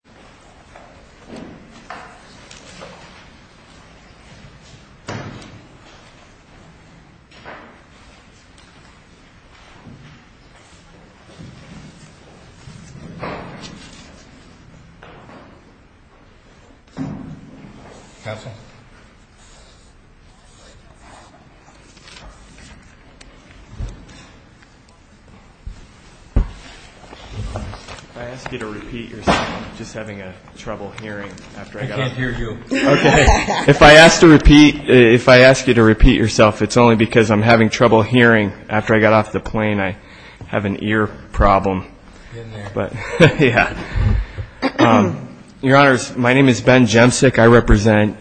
Indiana by Justice Rachel Brower and by Senator Maloney. I'm just having a trouble hearing after I got off the plane. I can't hear you. Okay. If I ask you to repeat yourself, it's only because I'm having trouble hearing after I got off the plane. I have an ear problem. Get in there. Yeah. Your Honors, my name is Ben Jemsick. I represent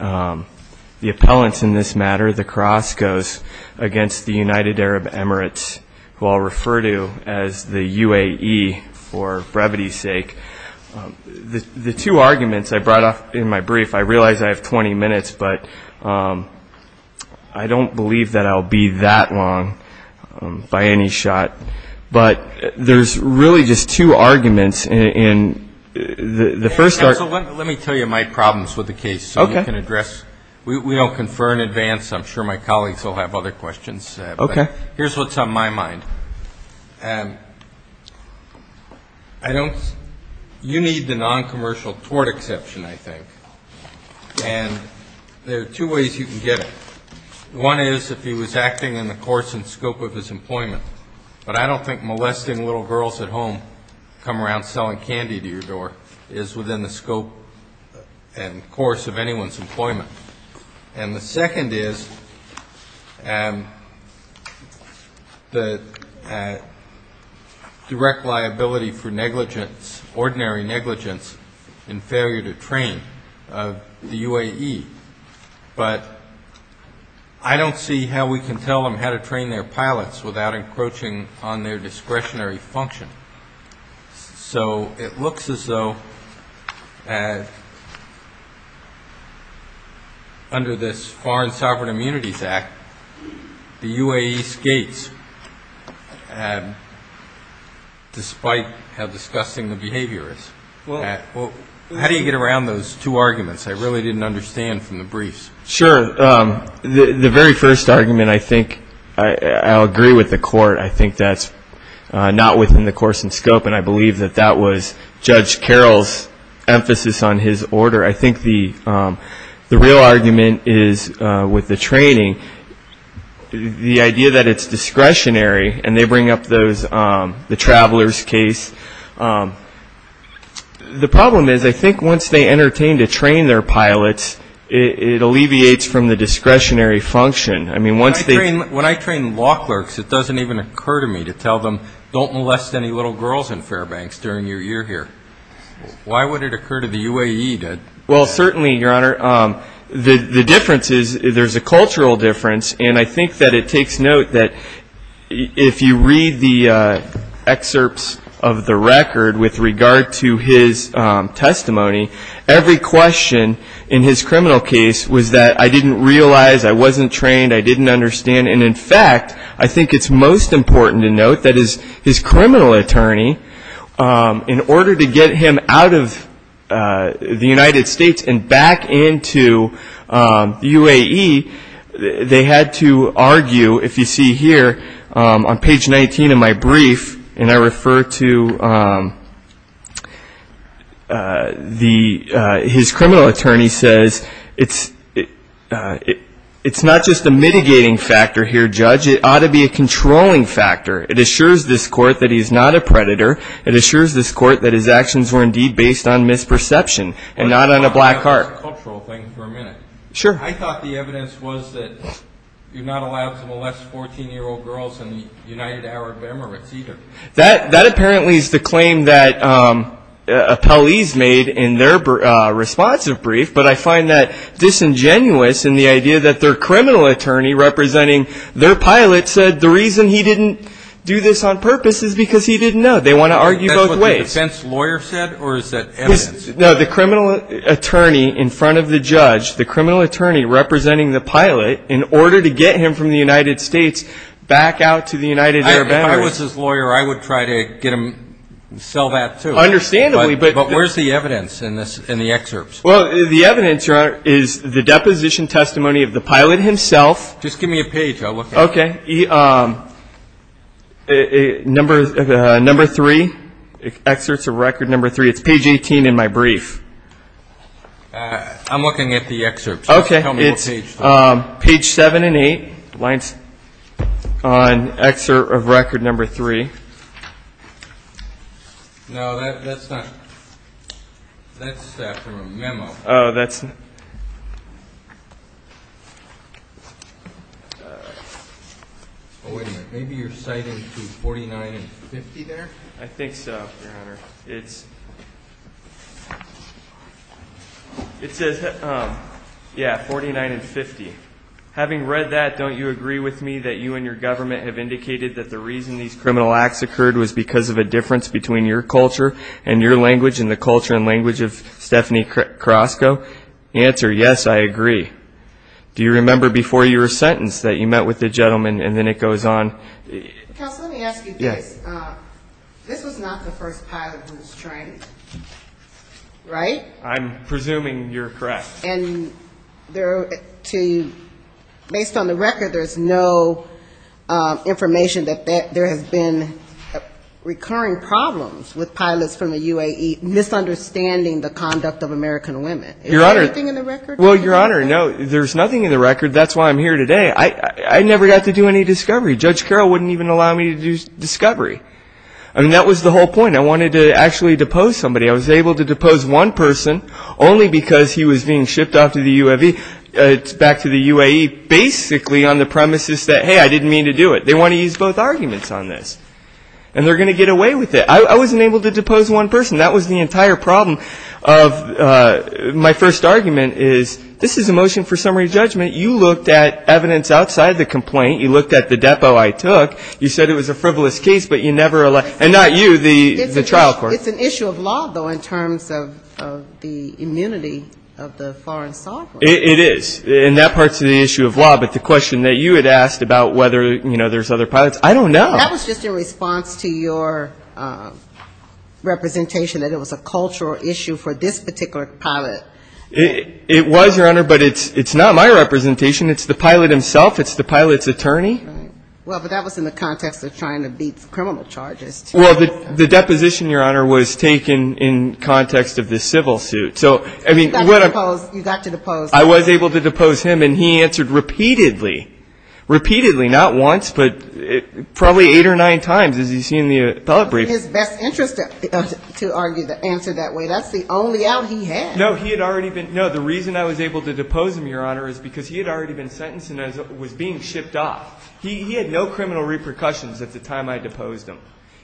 the appellants in this matter, the Carrasco's, against the United Arab Emirates, who I'll refer to as the UAE, for brevity's sake. The two arguments I brought up in my brief, I realize I have 20 minutes, but I don't believe that I'll be that long by any shot. But there's really just two arguments, and the first are... Let me tell you my problems with the case so you can address... We don't confer in advance. I'm sure my colleagues will have other questions. Okay. Here's what's on my mind. You need the non-commercial tort exception, I think, and there are two ways you can get it. One is if he was acting in the course and scope of his employment, but I don't think molesting little girls at home, come around selling candy to your door, is within the scope and course of anyone's employment. And the second is the direct liability for negligence, ordinary negligence, and failure to train of the UAE, but I don't see how we can tell them how to train their pilots without encroaching on their discretionary function. So it looks as though under this Foreign Sovereign Immunities Act, the UAE skates, despite how disgusting the behavior is. How do you get around those two arguments? I really didn't understand from the briefs. Sure. The very first argument, I think, I'll agree with the court. I think that's not within the course and scope, and I believe that that was Judge Carroll's emphasis on his order. I think the real argument is with the training, the idea that it's discretionary, and they bring up the travelers case. The problem is I think once they entertain to train their pilots, it alleviates from the discretionary function. When I train law clerks, it doesn't even occur to me to tell them, don't molest any little girls in Fairbanks during your year here. Why would it occur to the UAE to? Well certainly, Your Honor, the difference is there's a cultural difference, and I think that it takes note that if you read the excerpts of the record with regard to his testimony, every question in his criminal case was that I didn't realize, I wasn't trained, I didn't understand, and in fact, I think it's most important to note that his criminal attorney, in order to get him out of the United States and back into the UAE, they had to argue, if you see here on page 19 of my brief, and I refer to his criminal attorney says, it's not just a mitigating factor here, Judge, it ought to be a controlling factor. It assures this court that he's not a predator. It assures this court that his actions were indeed based on misperception and not on a black heart. I thought the evidence was that you're not allowed to molest 14-year-old girls in the United Arab Emirates either. That apparently is the claim that appellees made in their responsive brief, but I find that disingenuous in the idea that their criminal attorney representing their pilot said the reason he didn't do this on purpose is because he didn't know. They want to argue both ways. That's what the defense lawyer said, or is that evidence? No, the criminal attorney in front of the judge, the criminal attorney representing the pilot, in order to get him from the United States back out to the United Arab Emirates. If I was his lawyer, I would try to get him to sell that too. Understandably. But where's the evidence in the excerpts? Well, the evidence, Your Honor, is the deposition testimony of the pilot himself. Just give me a page. I'll look at it. Okay. Number three, excerpts of record number three. It's page 18 in my brief. I'm looking at the excerpts. Okay. Tell me what page. It's page seven and eight, lines on excerpt of record number three. No, that's not, that's from a memo. Oh, that's... Oh, wait a minute, maybe you're citing to 49 and 50 there? I think so, Your Honor. It's... It says, yeah, 49 and 50. Having read that, don't you agree with me that you and your government have indicated that the reason these criminal acts occurred was because of a difference between your culture and your language and the culture and language of Stephanie Carrasco? Answer, yes, I agree. Do you remember before your sentence that you met with the gentleman, and then it goes on... Counsel, let me ask you this. Yes. This was not the first pilot who was trained, right? I'm presuming you're correct. And there are two, based on the record, there's no information that there has been recurring problems with pilots from the UAE misunderstanding the conduct of American women. Is there anything in the record? Your Honor, well, Your Honor, no, there's nothing in the record. That's why I'm here today. I never got to do any discovery. Judge Carroll wouldn't even allow me to do discovery. I mean, that was the whole point. I wanted to actually depose somebody. I was able to depose one person only because he was being shipped off to the UAE, back to the UAE, basically on the premises that, hey, I didn't mean to do it. They want to use both arguments on this, and they're going to get away with it. I wasn't able to depose one person. That was the entire problem of... My first argument is, this is a motion for summary judgment. You looked at evidence outside the complaint. You looked at the depo I took. You said it was a frivolous case, but you never allowed... And not you, the trial court. It's an issue of law, though, in terms of the immunity of the foreign sovereign. It is. And that part's the issue of law. But the question that you had asked about whether there's other pilots, I don't know. That was just in response to your representation that it was a cultural issue for this particular pilot. It was, Your Honor, but it's not my representation. It's the pilot himself. It's the pilot's attorney. Right. Well, but that was in the context of trying to beat criminal charges, too. Well, the deposition, Your Honor, was taken in context of the civil suit. So, I mean... You got to depose... You got to depose... I was able to depose him, and he answered repeatedly. Repeatedly. Not once, but probably eight or nine times, as you see in the appellate briefing. In his best interest to argue the answer that way. That's the only out he had. No, he had already been... No, the reason I was able to depose him, Your Honor, is because he had already been sentenced and was being shipped off. He had no criminal repercussions at the time I deposed him.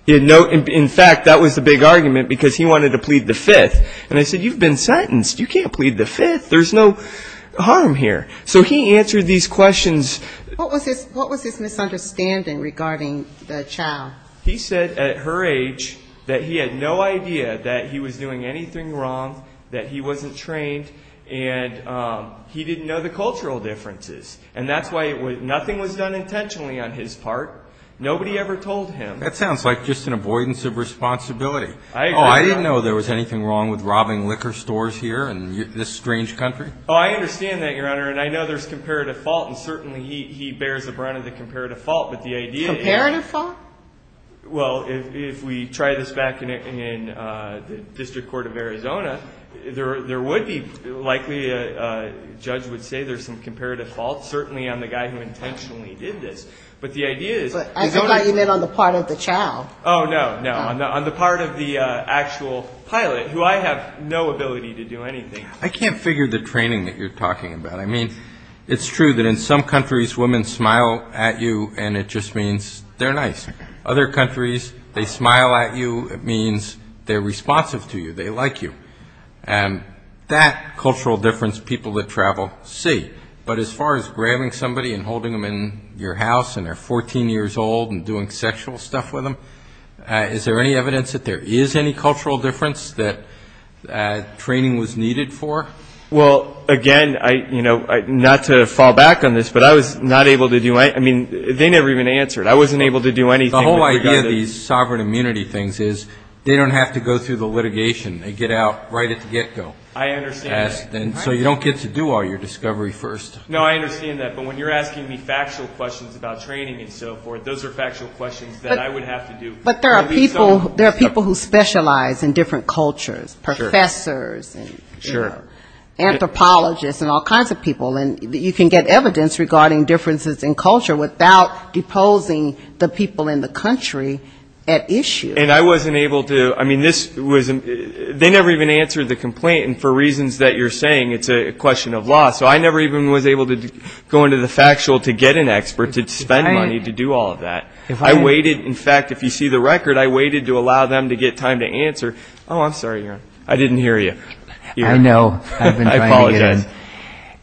He had no... In fact, that was the big argument, because he wanted to plead the Fifth. And I said, You've been sentenced. You can't plead the Fifth. There's no harm here. So he answered these questions... What was his misunderstanding regarding the child? He said, at her age, that he had no idea that he was doing anything wrong, that he wasn't trained, and he didn't know the cultural differences. And that's why nothing was done intentionally on his part. Nobody ever told him. That sounds like just an avoidance of responsibility. Oh, I didn't know there was anything wrong with robbing liquor stores here in this strange country. Oh, I understand that, Your Honor. And I know there's comparative fault, and certainly he bears the brunt of the comparative fault, but the idea is... Comparative fault? Well, if we try this back in the District Court of Arizona, there would be, likely, a judge would say there's some comparative fault, certainly on the guy who intentionally did this. But the idea is... I thought you meant on the part of the child. Oh, no, no. On the part of the actual pilot, who I have no ability to do anything. I can't figure the training that you're talking about. I mean, it's true that in some countries, women smile at you, and it just means they're nice. Other countries, they smile at you. It means they're responsive to you. They like you. And that cultural difference, people that travel see. But as far as grabbing somebody and holding them in your house, and they're 14 years old and doing sexual stuff with them, is there any evidence that there is any cultural difference that training was needed for? Well, again, not to fall back on this, but I was not able to do my... I mean, they never even answered. I wasn't able to do anything. The whole idea of these sovereign immunity things is they don't have to go through the litigation. They get out right at the get-go. I understand that. So you don't get to do all your discovery first. No, I understand that. But when you're asking me factual questions about training and so forth, those are factual questions that I would have to do. But there are people who specialize in different cultures. Professors and anthropologists and all kinds of people. And you can get evidence regarding differences in culture without deposing the people in the country at issue. And I wasn't able to... I mean, this was... They never even answered the complaint. And for reasons that you're saying, it's a question of law. So I never even was able to go into the factual to get an expert to spend money to do all of that. I waited. In fact, if you see the record, I waited to allow them to get time to answer. Oh, I'm sorry. I didn't hear you. I know. I've been trying to get in.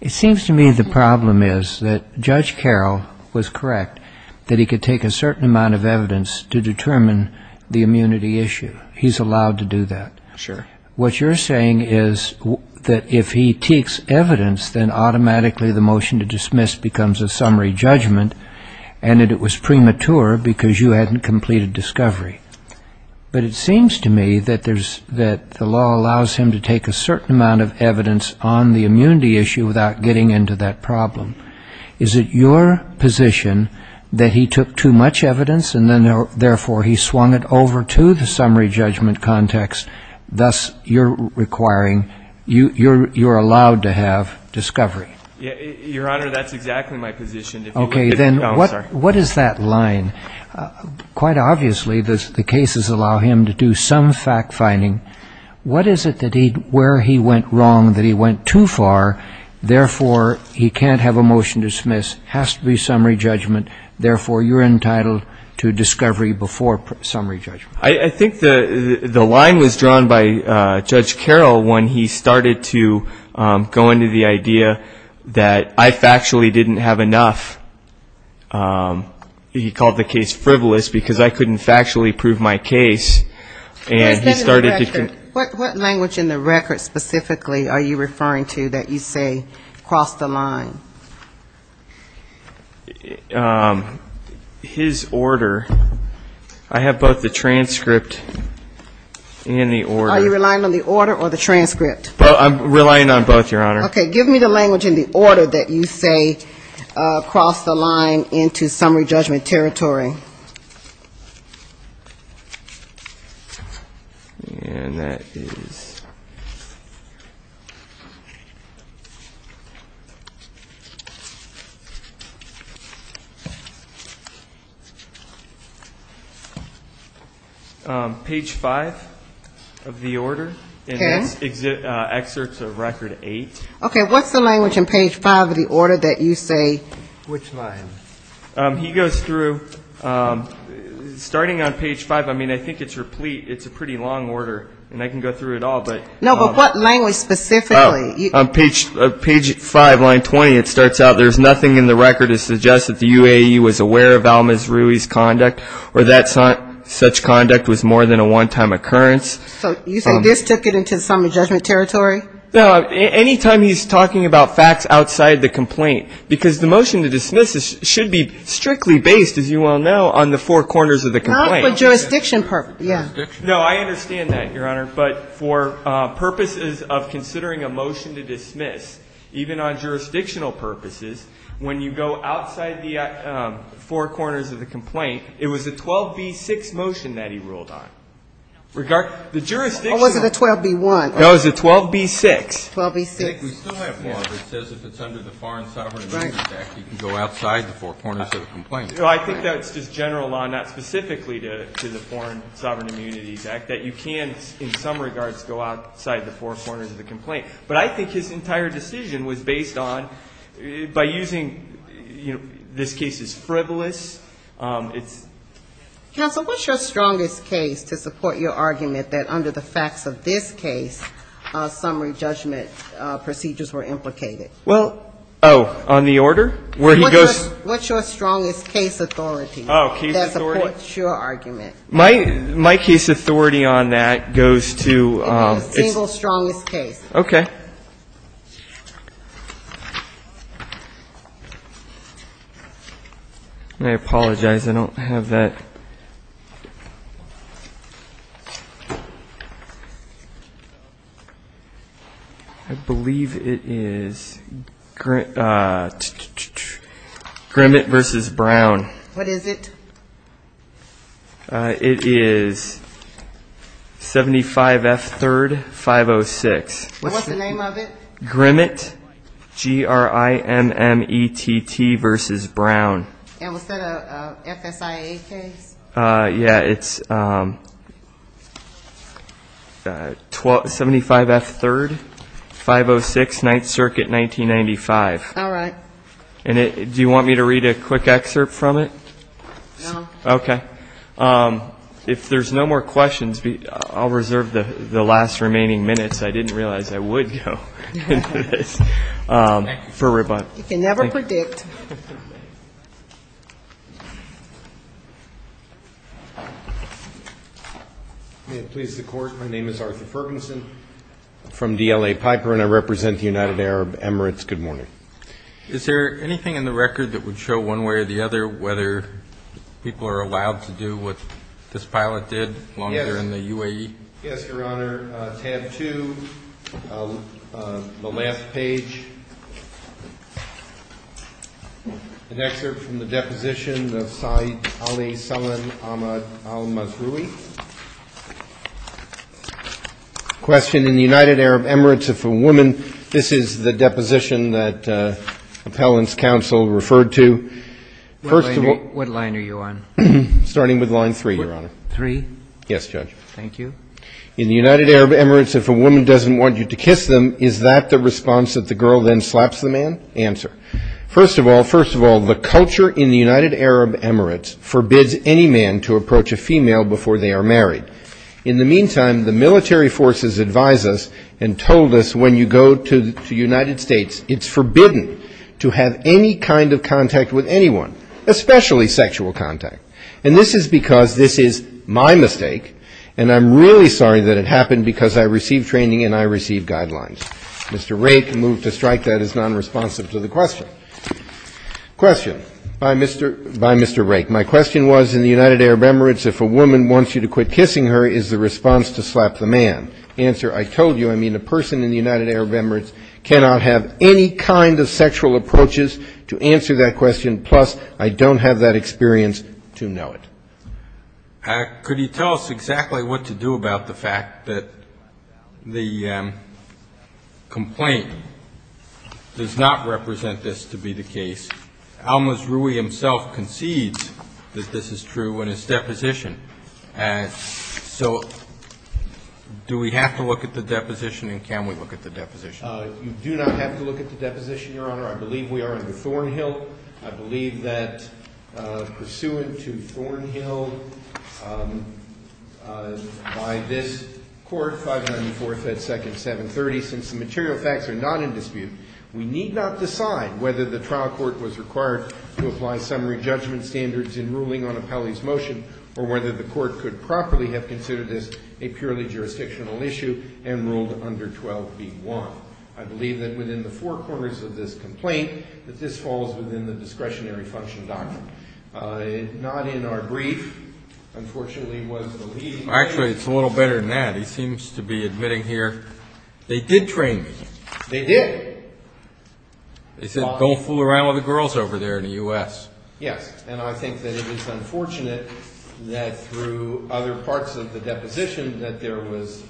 It seems to me the problem is that Judge Carroll was correct that he could take a certain amount of evidence to determine the immunity issue. He's allowed to do that. Sure. What you're saying is that if he takes evidence, then automatically the motion to dismiss becomes a summary judgment and that it was premature because you hadn't completed discovery. But it seems to me that the law allows him to take a certain amount of evidence on the immunity issue without getting into that problem. Is it your position that he took too much evidence and then therefore he swung it over to the summary judgment context? Thus, you're requiring... You're allowed to have discovery. Your Honor, that's exactly my position. Okay, then what is that line? Quite obviously, the cases allow him to do some fact-finding. What is it where he went wrong, that he went too far, therefore he can't have a motion to dismiss, has to be summary judgment, therefore you're entitled to discovery before summary judgment? I think the line was drawn by Judge Carroll when he started to go into the idea that I factually didn't have enough. He called the case frivolous because I couldn't factually prove my case. What language in the record specifically are you referring to that you say crossed the line? His order. I have both the transcript and the order. Are you relying on the order or the transcript? I'm relying on both, Your Honor. Okay, give me the language in the order that you say crossed the line into summary judgment territory. And that is... Page 5 of the order. And that's excerpts of record 8. Okay, what's the language in page 5 of the order that you say... Which line? He goes through... Starting on page 5, I mean, I think it's replete. It's a pretty long order, and I can go through it all, but... No, but what language specifically? On page 5, line 20, it starts out, there's nothing in the record that suggests that the UAE was aware of Almaz-Rui's conduct, or that such conduct was more than a one-time occurrence. So you say this took it into summary judgment territory? No, any time he's talking about facts outside the complaint. Because the motion to dismiss should be strictly based, as you well know, on the four corners of the complaint. Not for jurisdiction purposes. No, I understand that, Your Honor, but for purposes of considering a motion to dismiss, even on jurisdictional purposes, when you go outside the four corners of the complaint, it was a 12b-6 motion that he ruled on. Or was it a 12b-1? No, it was a 12b-6. We still have law that says if it's under the Foreign Sovereign Immunities Act, you can go outside the four corners of the complaint. I think that's just general law, not specifically to the Foreign Sovereign Immunities Act, that you can, in some regards, go outside the four corners of the complaint. But I think his entire decision was based on, by using this case as frivolous, it's... Counsel, what's your strongest case to support your argument that under the facts of this case, summary judgment procedures were implicated? Oh, on the order? What's your strongest case authority to support your argument? My case authority on that goes to... It's the single strongest case. Okay. I apologize. I don't have that. I believe it is... Grimmett v. Brown. What is it? It is... 75F3-506. What's the name of it? Grimmett. G-r-i-m-m-e-t-t v. Brown. And was that a FSIA case? Yeah, it's... 75F3-506, 9th Circuit, 1995. Alright. Do you want me to read a quick excerpt from it? No. If there's no more questions, I'll reserve the last remaining minutes. I didn't realize I would go into this. You can never predict. May it please the Court, my name is Arthur Ferguson from DLA Piper, and I represent the United Arab Emirates. Good morning. Is there anything in the record that would show one way or the other whether people are allowed to do what this pilot did while they're in the UAE? Yes, Your Honor. Tab 2, the last page. An excerpt from the deposition of Saeed Ali Salman Ahmad al-Mazroui. Question. In the United Arab Emirates, if a woman... This is the deposition that Appellant's Counsel referred to. What line are you on? Starting with line 3, Your Honor. Yes, Judge. In the United Arab Emirates, if a woman doesn't want you to kiss them, is that the response that the girl then slaps the man? Answer. First of all, the culture in the United Arab Emirates forbids any man to approach a female before they are married. In the meantime, the military forces advised us and told us when you go to the United States, it's forbidden to have any kind of contact with anyone, especially sexual contact. And this is because this is my mistake, and I'm really sorry that it happened because I received training and I received guidelines. Mr. Rake moved to strike that as nonresponsive to the question. Question by Mr. Rake. My question was, in the United Arab Emirates, if a woman wants you to quit kissing her, is the response to slap the man? Answer. I told you, I mean, a person in the United Arab Emirates cannot have any kind of sexual approaches to answer that question, plus I don't have that experience to know it. Could you tell us exactly what to do about the fact that the complaint does not represent this to be the case? Almaz Rui himself concedes that this is true in his deposition. So do we have to look at the deposition and can we look at the deposition? You do not have to look at the deposition, Your Honor. I believe we are under Thornhill. I believe that pursuant to Thornhill, by this Court, 594 FedSecond 730, since the material facts are not in dispute, we need not decide whether the trial court was required to apply summary judgment standards in ruling on Appelli's motion or whether the court could properly have considered this a purely jurisdictional issue and ruled under 12b1. I believe that within the four corners of this complaint that this falls within the discretionary function doctrine. Not in our brief, unfortunately, was the lead... Actually, it's a little better than that. He seems to be admitting here, They did train me. They did. They said, don't fool around with the girls over there in the U.S. Yes, and I think that it is unfortunate that through other parts of the deposition that there was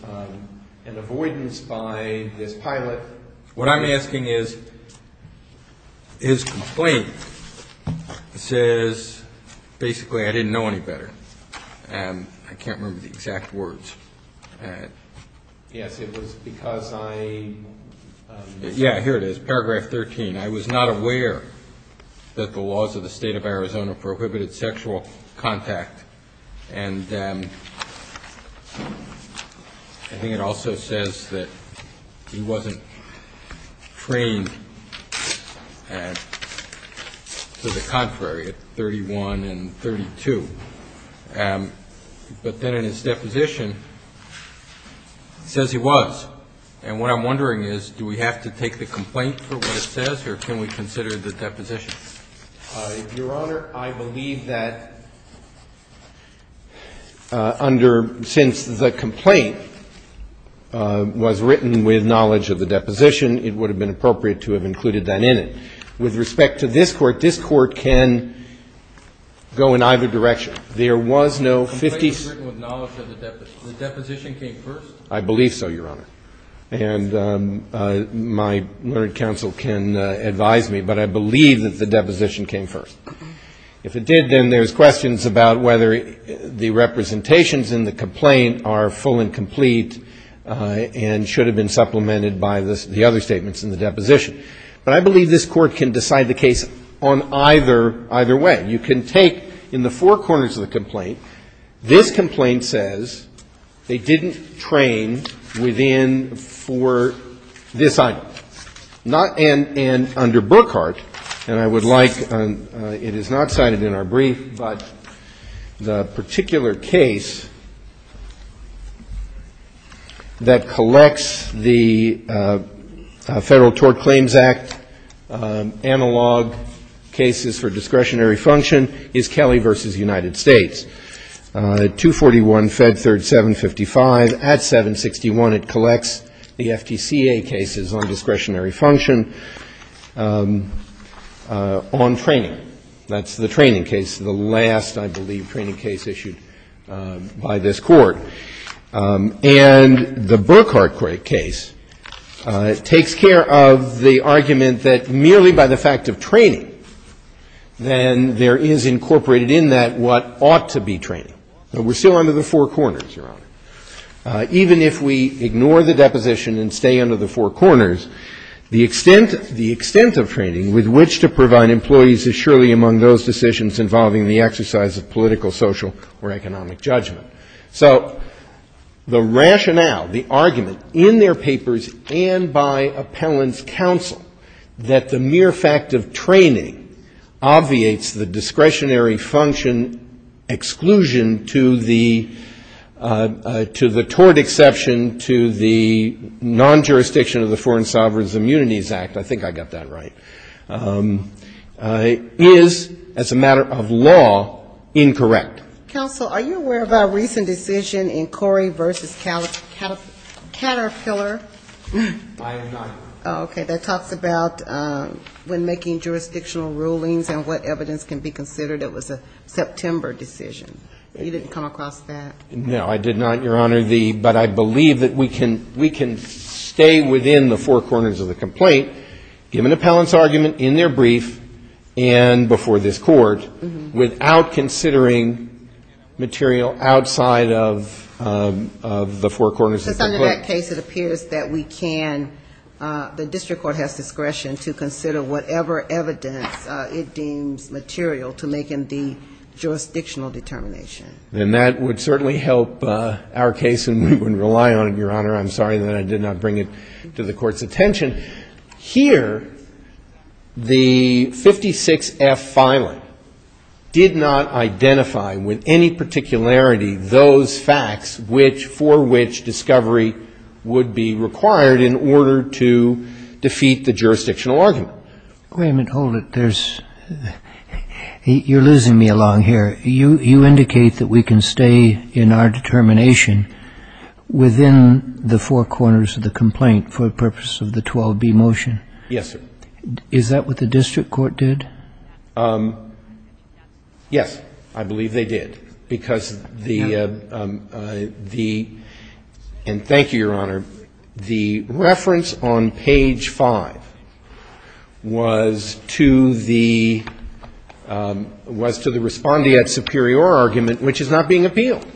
an avoidance by this pilot. What I'm asking is, his complaint says, basically, I didn't know any better. I can't remember the exact words. Yes, it was because I... Yeah, here it is, paragraph 13. I was not aware that the laws of the state of Arizona prohibited sexual contact and I think it also says that he wasn't trained to the contrary at 31 and 32. But then in his deposition it says he was. And what I'm wondering is, do we have to take the complaint for what it says or can we consider the deposition? Your Honor, I believe that under, since the complaint was written with knowledge of the deposition, it would have been appropriate to have included that in it. With respect to this Court, this Court can go in either direction. The complaint was written with knowledge of the deposition. The deposition came first? I believe so, Your Honor. And my learned counsel can advise me, but I believe that the deposition came first. If it did, then there's questions about whether the representations in the complaint are full and complete and should have been supplemented by the other statements in the deposition. But I believe this Court can decide the case on either way. You can take, in the four corners of the complaint, this complaint says they didn't train within for this item. And under Brookhart, and I would like, it is not cited in our brief, but the particular case that collects the Federal Tort Claims Act analog cases for discretionary function is Kelly v. United States. 241 Fed 3rd 755 at 761 it collects the FTCA cases on discretionary function on training. That's the training case, the last, I believe, training case issued by this Court. And the Brookhart case takes care of the argument that merely by the fact of training, then there is incorporated in that what ought to be training. But we're still under the four corners, Your Honor. Even if we ignore the deposition and stay under the four corners, the extent of training with which to provide employees is surely among those decisions involving the exercise of political, social, or economic judgment. So the rationale, the argument in their papers and by appellant's counsel that the mere fact of training obviates the discretionary function exclusion to the tort exception to the non-jurisdiction of the Foreign Sovereigns Immunities Act, I think I got that right, is, as a matter of law, incorrect. Counsel, are you aware of our recent decision in Corey v. Caterpillar? I am not. Okay. That talks about when making jurisdictional rulings and what evidence can be considered. It was a September decision. You didn't come across that? No, I did not, Your Honor. But I believe that we can stay within the four corners of the complaint given appellant's argument in their brief and before this Court without considering material outside of the four corners of the complaint. Because under that case, it appears that we can the district court has discretion to consider whatever evidence it deems material to make in the jurisdictional determination. Then that would certainly help our case and we wouldn't rely on it, Your Honor. I'm sorry that I did not bring it to the Court's attention. Here, the 56-F filing did not identify with any particularity those facts for which discovery would be required in order to defeat the jurisdictional argument. Wait a minute. Hold it. You're losing me along here. You indicate that we can stay in our determination within the four corners of the complaint for the purpose of the 12B motion. Yes, sir. Is that what the district court did? Yes, I believe they did. And thank you, Your Honor. The reference on page 5 was to the respondeat superior argument which is not being appealed.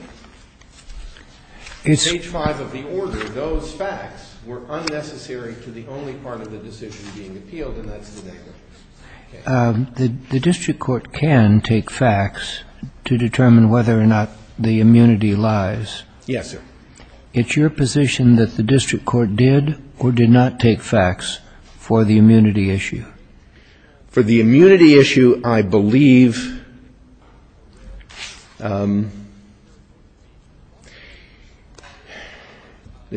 Page 5 of the order, those facts were unnecessary to the only part of the decision being appealed and that's the negligence. The district court can take facts to determine whether or not the immunity lies. Yes, sir. It's your position that the district court did or did not take facts for the immunity issue? For the immunity issue, I believe the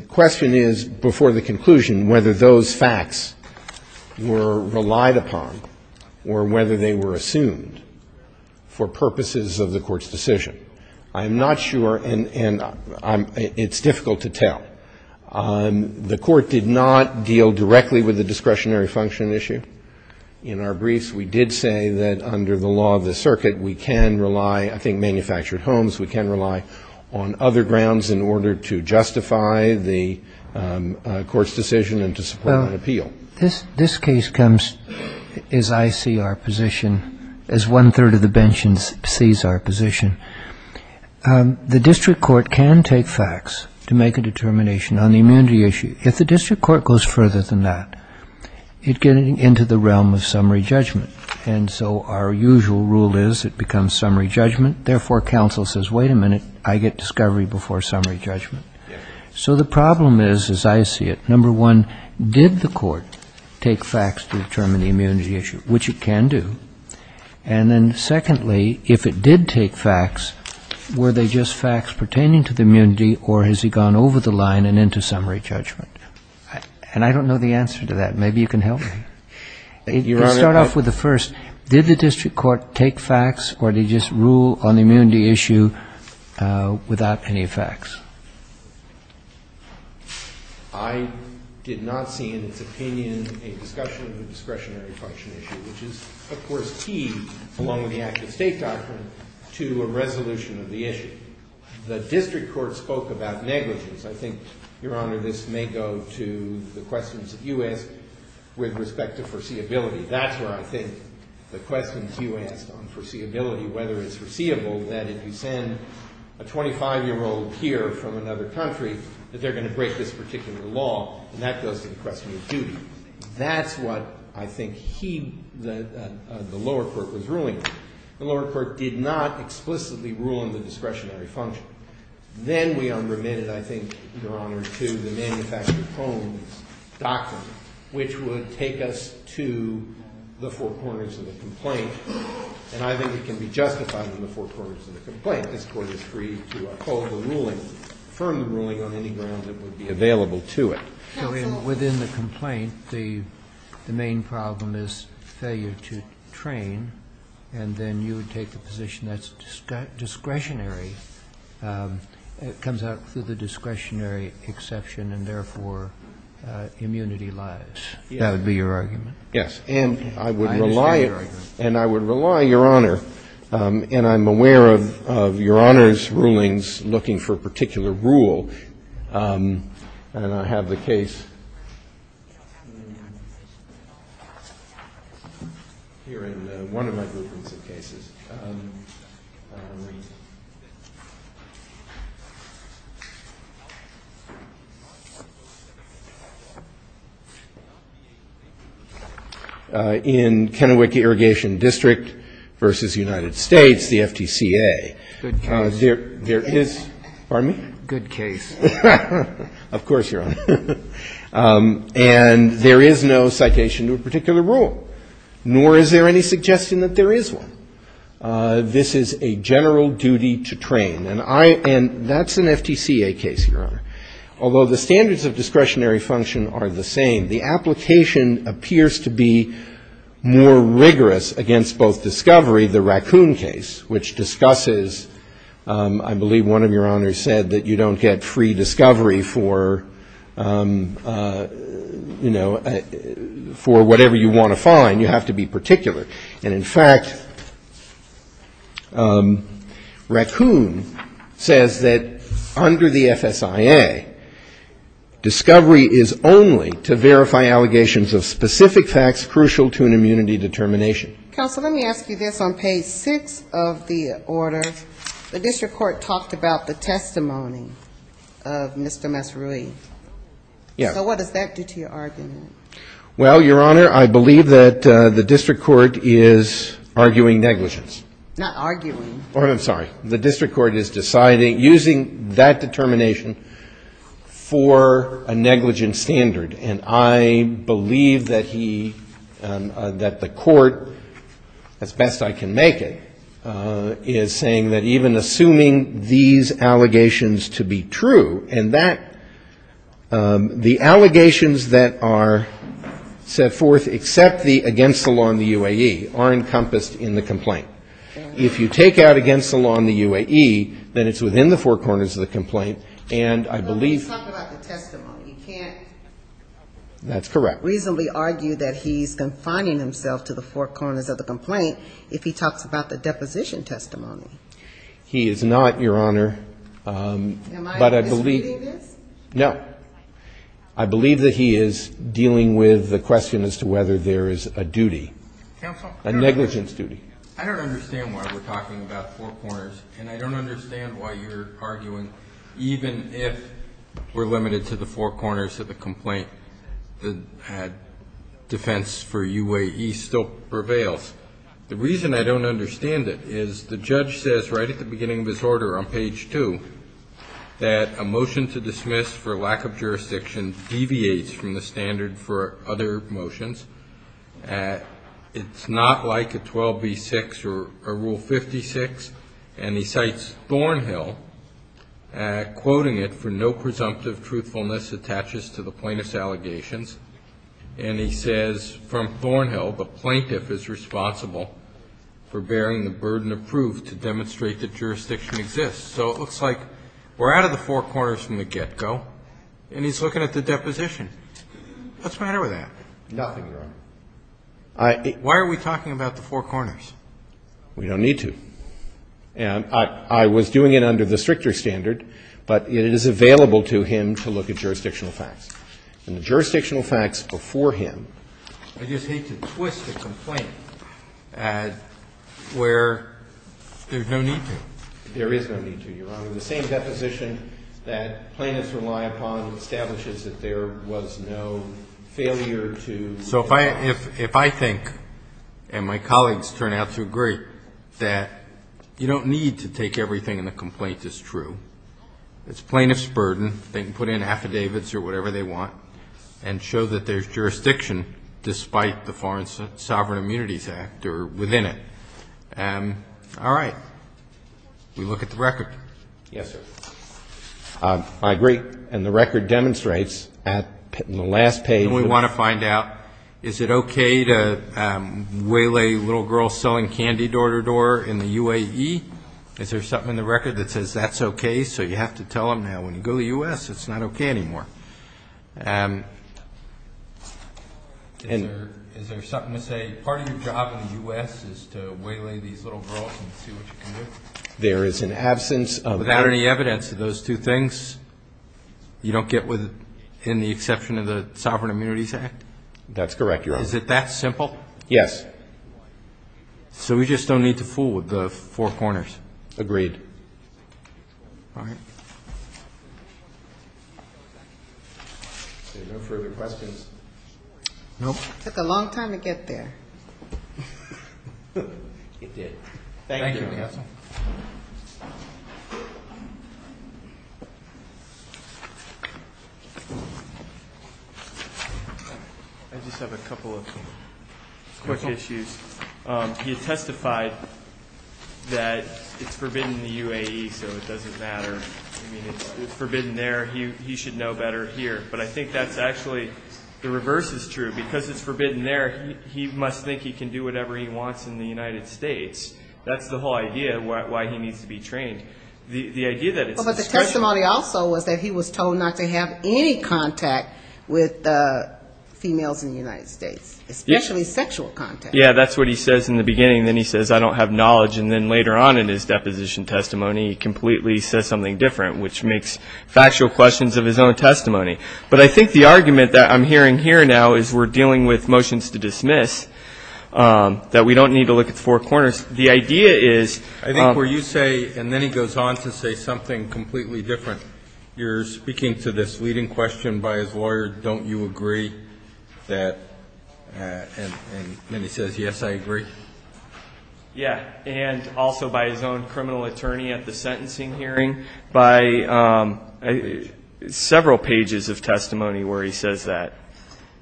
question is before the conclusion whether those facts were relied upon or whether they were assumed for purposes of the court's decision. I'm not sure and it's difficult to tell. The court did not deal directly with the discretionary function issue in our briefs. We did say that under the law of the circuit we can rely, I think manufactured homes, we can rely on other grounds in order to justify the court's decision and to support an appeal. This case comes as I see our position as one third of the bench sees our position. The district court can take facts to make a determination on the immunity issue. If the district court goes further than that it gets into the realm of summary judgment and so our usual rule is it becomes summary judgment therefore counsel says wait a minute I get discovery before summary judgment. So the problem is, as I see it, number one, did the court take facts to determine the immunity issue, which it can do and then secondly, if it did take facts were they just facts pertaining to the immunity or has he gone over the line and into summary judgment? And I don't know the answer to that. Maybe you can help me. Let's start off with the first. Did the district court take facts or did he just rule on the immunity issue without any facts? I did not see in its opinion a discussion of a discretionary function issue which is of course key along with the active state doctrine to a resolution of the issue. The district court spoke about negligence. I think, Your Honor, this may go to the questions that you asked with respect to foreseeability. That's where I think the questions you asked on foreseeability, whether it's foreseeable that if you send a 25-year-old here from another country that they're going to break this particular law and that goes to the question of duty. That's what I think the lower court was ruling on. The lower court did not explicitly rule on the discretionary function. Then we unremitted, I think, Your Honor, to the manufactured homes doctrine which would take us to the four corners of the complaint. I think it can be justified in the four corners of the complaint. This court is free to call the ruling, affirm the ruling on any ground that would be available to it. So within the complaint, the main problem is failure to train and then you would take a position that's discretionary and it comes out through the discretionary exception and therefore immunity lies. That would be your argument? Yes, and I would rely, Your Honor, and I'm aware of Your Honor's rulings looking for a particular rule. And I have the case here in one of my groupings of cases. In Kennewick Irrigation District v. United States, the FTCA. Good case. Pardon me? Good case. Of course, Your Honor. And there is no citation to a particular rule nor is there any suggestion that there is one. This is a general duty to train and that's an FTCA case, Your Honor. Although the standards of discretionary function are the same, the application appears to be more rigorous against both discovery, the Raccoon case, which discusses, I believe one of Your Honors said, that you don't get free discovery for whatever you want to find. You have to be particular. And in fact, Raccoon says that under the FSIA, discovery is only to verify allegations of specific facts crucial to an immunity determination. Counsel, let me ask you this. On page 6 of the order, the district court talked about the testimony of Mr. Massarui. So what does that do to your argument? Well, Your Honor, I believe that the district court is arguing negligence. Not arguing. The district court is using that determination for a negligence standard and I believe that the court, as best I can make it, is saying that even assuming these allegations to be true and that the allegations that are set forth except against the law in the UAE are encompassed in the complaint. If you take out against the law in the UAE, then it's within the four corners of the complaint and I believe... Let's talk about the testimony. You can't reasonably argue that he's confining himself to the four corners of the complaint if he talks about the deposition testimony. He is not, Your Honor. Am I disputing this? No. I believe that he is dealing with the question as to whether there is a duty, a negligence duty. I don't understand why we're talking about four corners and I don't understand why you're arguing that even if we're limited to the four corners of the complaint, defense for UAE still prevails. The reason I don't understand it is the judge says right at the beginning of his order on page 2 that a motion to dismiss for lack of jurisdiction deviates from the standard for other motions. It's not like a 12B6 or Rule 56 and he cites Thornhill quoting it for no presumptive truthfulness attaches to the plaintiff's allegations and he says from Thornhill the plaintiff is responsible for bearing the burden of proof to demonstrate that jurisdiction exists. So it looks like we're out of the four corners from the get-go and he's looking at the deposition. What's the matter with that? Nothing, Your Honor. Why are we talking about the four corners? We don't need to. I was doing it under the stricter standard but it is available to him to look at jurisdictional facts and the jurisdictional facts before him I just hate to twist the complaint There is no need to, Your Honor. The same deposition that plaintiffs rely upon establishes that there was no failure to So if I think and my colleagues turn out to agree that you don't need to take everything in the complaint as true it's plaintiff's burden they can put in affidavits or whatever they want and show that there's jurisdiction despite the Foreign Sovereign Immunities Act or within it. All right. We look at the record. Yes, sir. I agree. And the record demonstrates Is it okay to waylay little girls selling candy door-to-door in the UAE? Is there something in the record that says that's okay so you have to tell them now when you go to the U.S. it's not okay anymore? Is there something to say part of your job in the U.S. is to waylay these little girls and see what you can do? There is an absence of evidence Without any evidence of those two things you don't get in the exception of the Sovereign Immunities Act? That's correct, Your Honor. Is it that simple? Yes. So we just don't need to fool with the four corners? Agreed. All right. Are there no further questions? Nope. It took a long time to get there. It did. Thank you. I just have a couple of quick issues. He testified that it's forbidden in the UAE so it doesn't matter. It's forbidden there. He should know better here. But I think that's actually the reverse is true. Because it's forbidden there he must think he can do whatever he wants in the United States. That's the whole idea of why he needs to be trained. But the testimony also was that he was told not to have any contact with females in the United States. Especially sexual contact. Yeah, that's what he says in the beginning. Then he says, I don't have knowledge. And then later on in his deposition testimony he completely says something different which makes factual questions of his own testimony. But I think the argument that I'm hearing here now is we're dealing with motions to dismiss that we don't need to look at the four corners. I think where you say, and then he goes on to say something completely different you're speaking to this leading question by his lawyer don't you agree? And then he says, yes I agree. Yeah, and also by his own criminal attorney at the sentencing hearing by several pages of testimony where he says that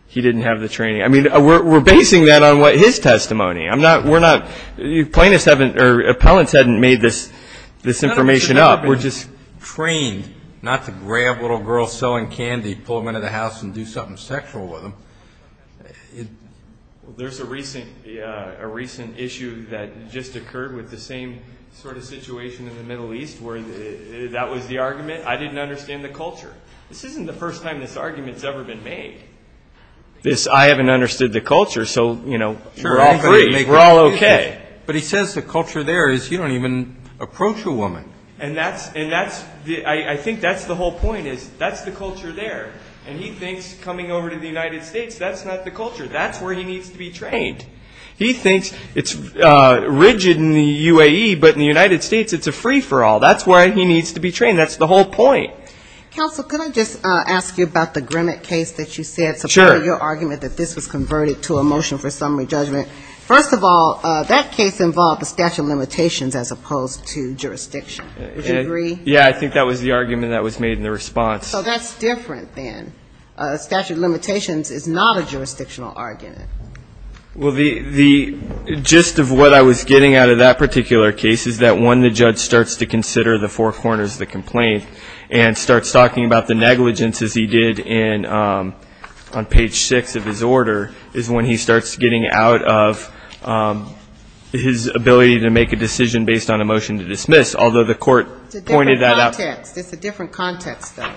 he didn't have the training. We're basing that on his testimony. Appellants haven't made this information up. We're just trained not to grab little girls selling candy pull them into the house and do something sexual with them. There's a recent issue that just occurred with the same sort of situation in the Middle East where that was the argument, I didn't understand the culture. This isn't the first time this argument has ever been made. I haven't understood the culture so we're all free. We're all okay. But he says the culture there is you don't even approach a woman. And I think that's the whole point that's the culture there. And he thinks coming over to the United States that's not the culture that's where he needs to be trained. He thinks it's rigid in the UAE but in the United States it's a free-for-all. That's where he needs to be trained. That's the whole point. Counsel, can I just ask you about the Grimmett case that you said supported your argument that this was converted to a motion for summary judgment. First of all, that case involved a statute of limitations as opposed to jurisdiction. Would you agree? Yeah, I think that was the argument that was made in the response. So that's different then. A statute of limitations is not a jurisdictional argument. Well, the gist of what I was getting out of that particular case is that when the judge starts to consider the four corners of the complaint and starts talking about the negligence as he did on page 6 of his order is when he starts getting out of his ability to make a decision based on a motion to dismiss although the court pointed that out. It's a different context though.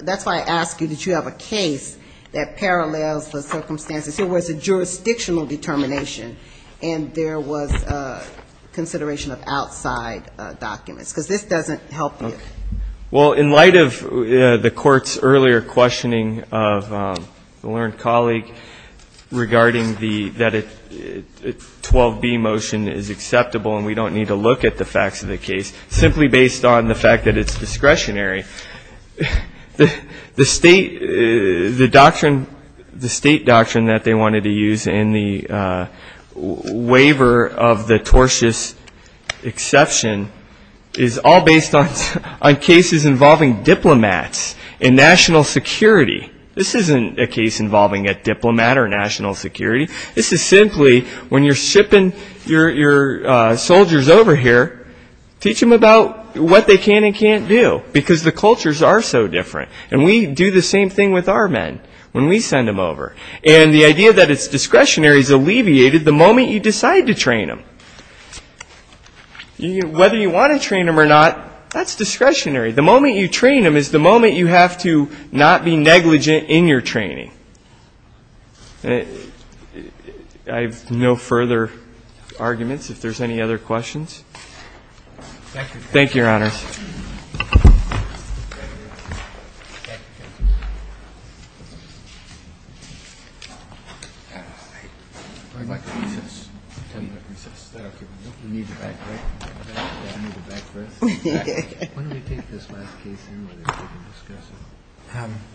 That's why I ask you that you have a case that parallels the circumstances where it's a jurisdictional determination and there was consideration of outside documents because this doesn't help you. Well, in light of the court's earlier questioning of the learned colleague regarding that a 12B motion is acceptable and we don't need to look at the facts of the case simply based on the fact that it's discretionary the state doctrine that they wanted to use in the waiver of the tortious exception is all based on cases involving diplomats and national security. This isn't a case involving a diplomat or national security. This is simply when you're shipping your soldiers over here teach them about what they can and can't do because the cultures are so different and we do the same thing with our men when we send them over and the idea that it's discretionary is alleviated the moment you decide to train them. Whether you want to train them or not that's discretionary. The moment you train them is the moment you have to not be negligent in your training. I have no further arguments if there's any other questions. Thank you, Your Honor. Thank you, Your Honor.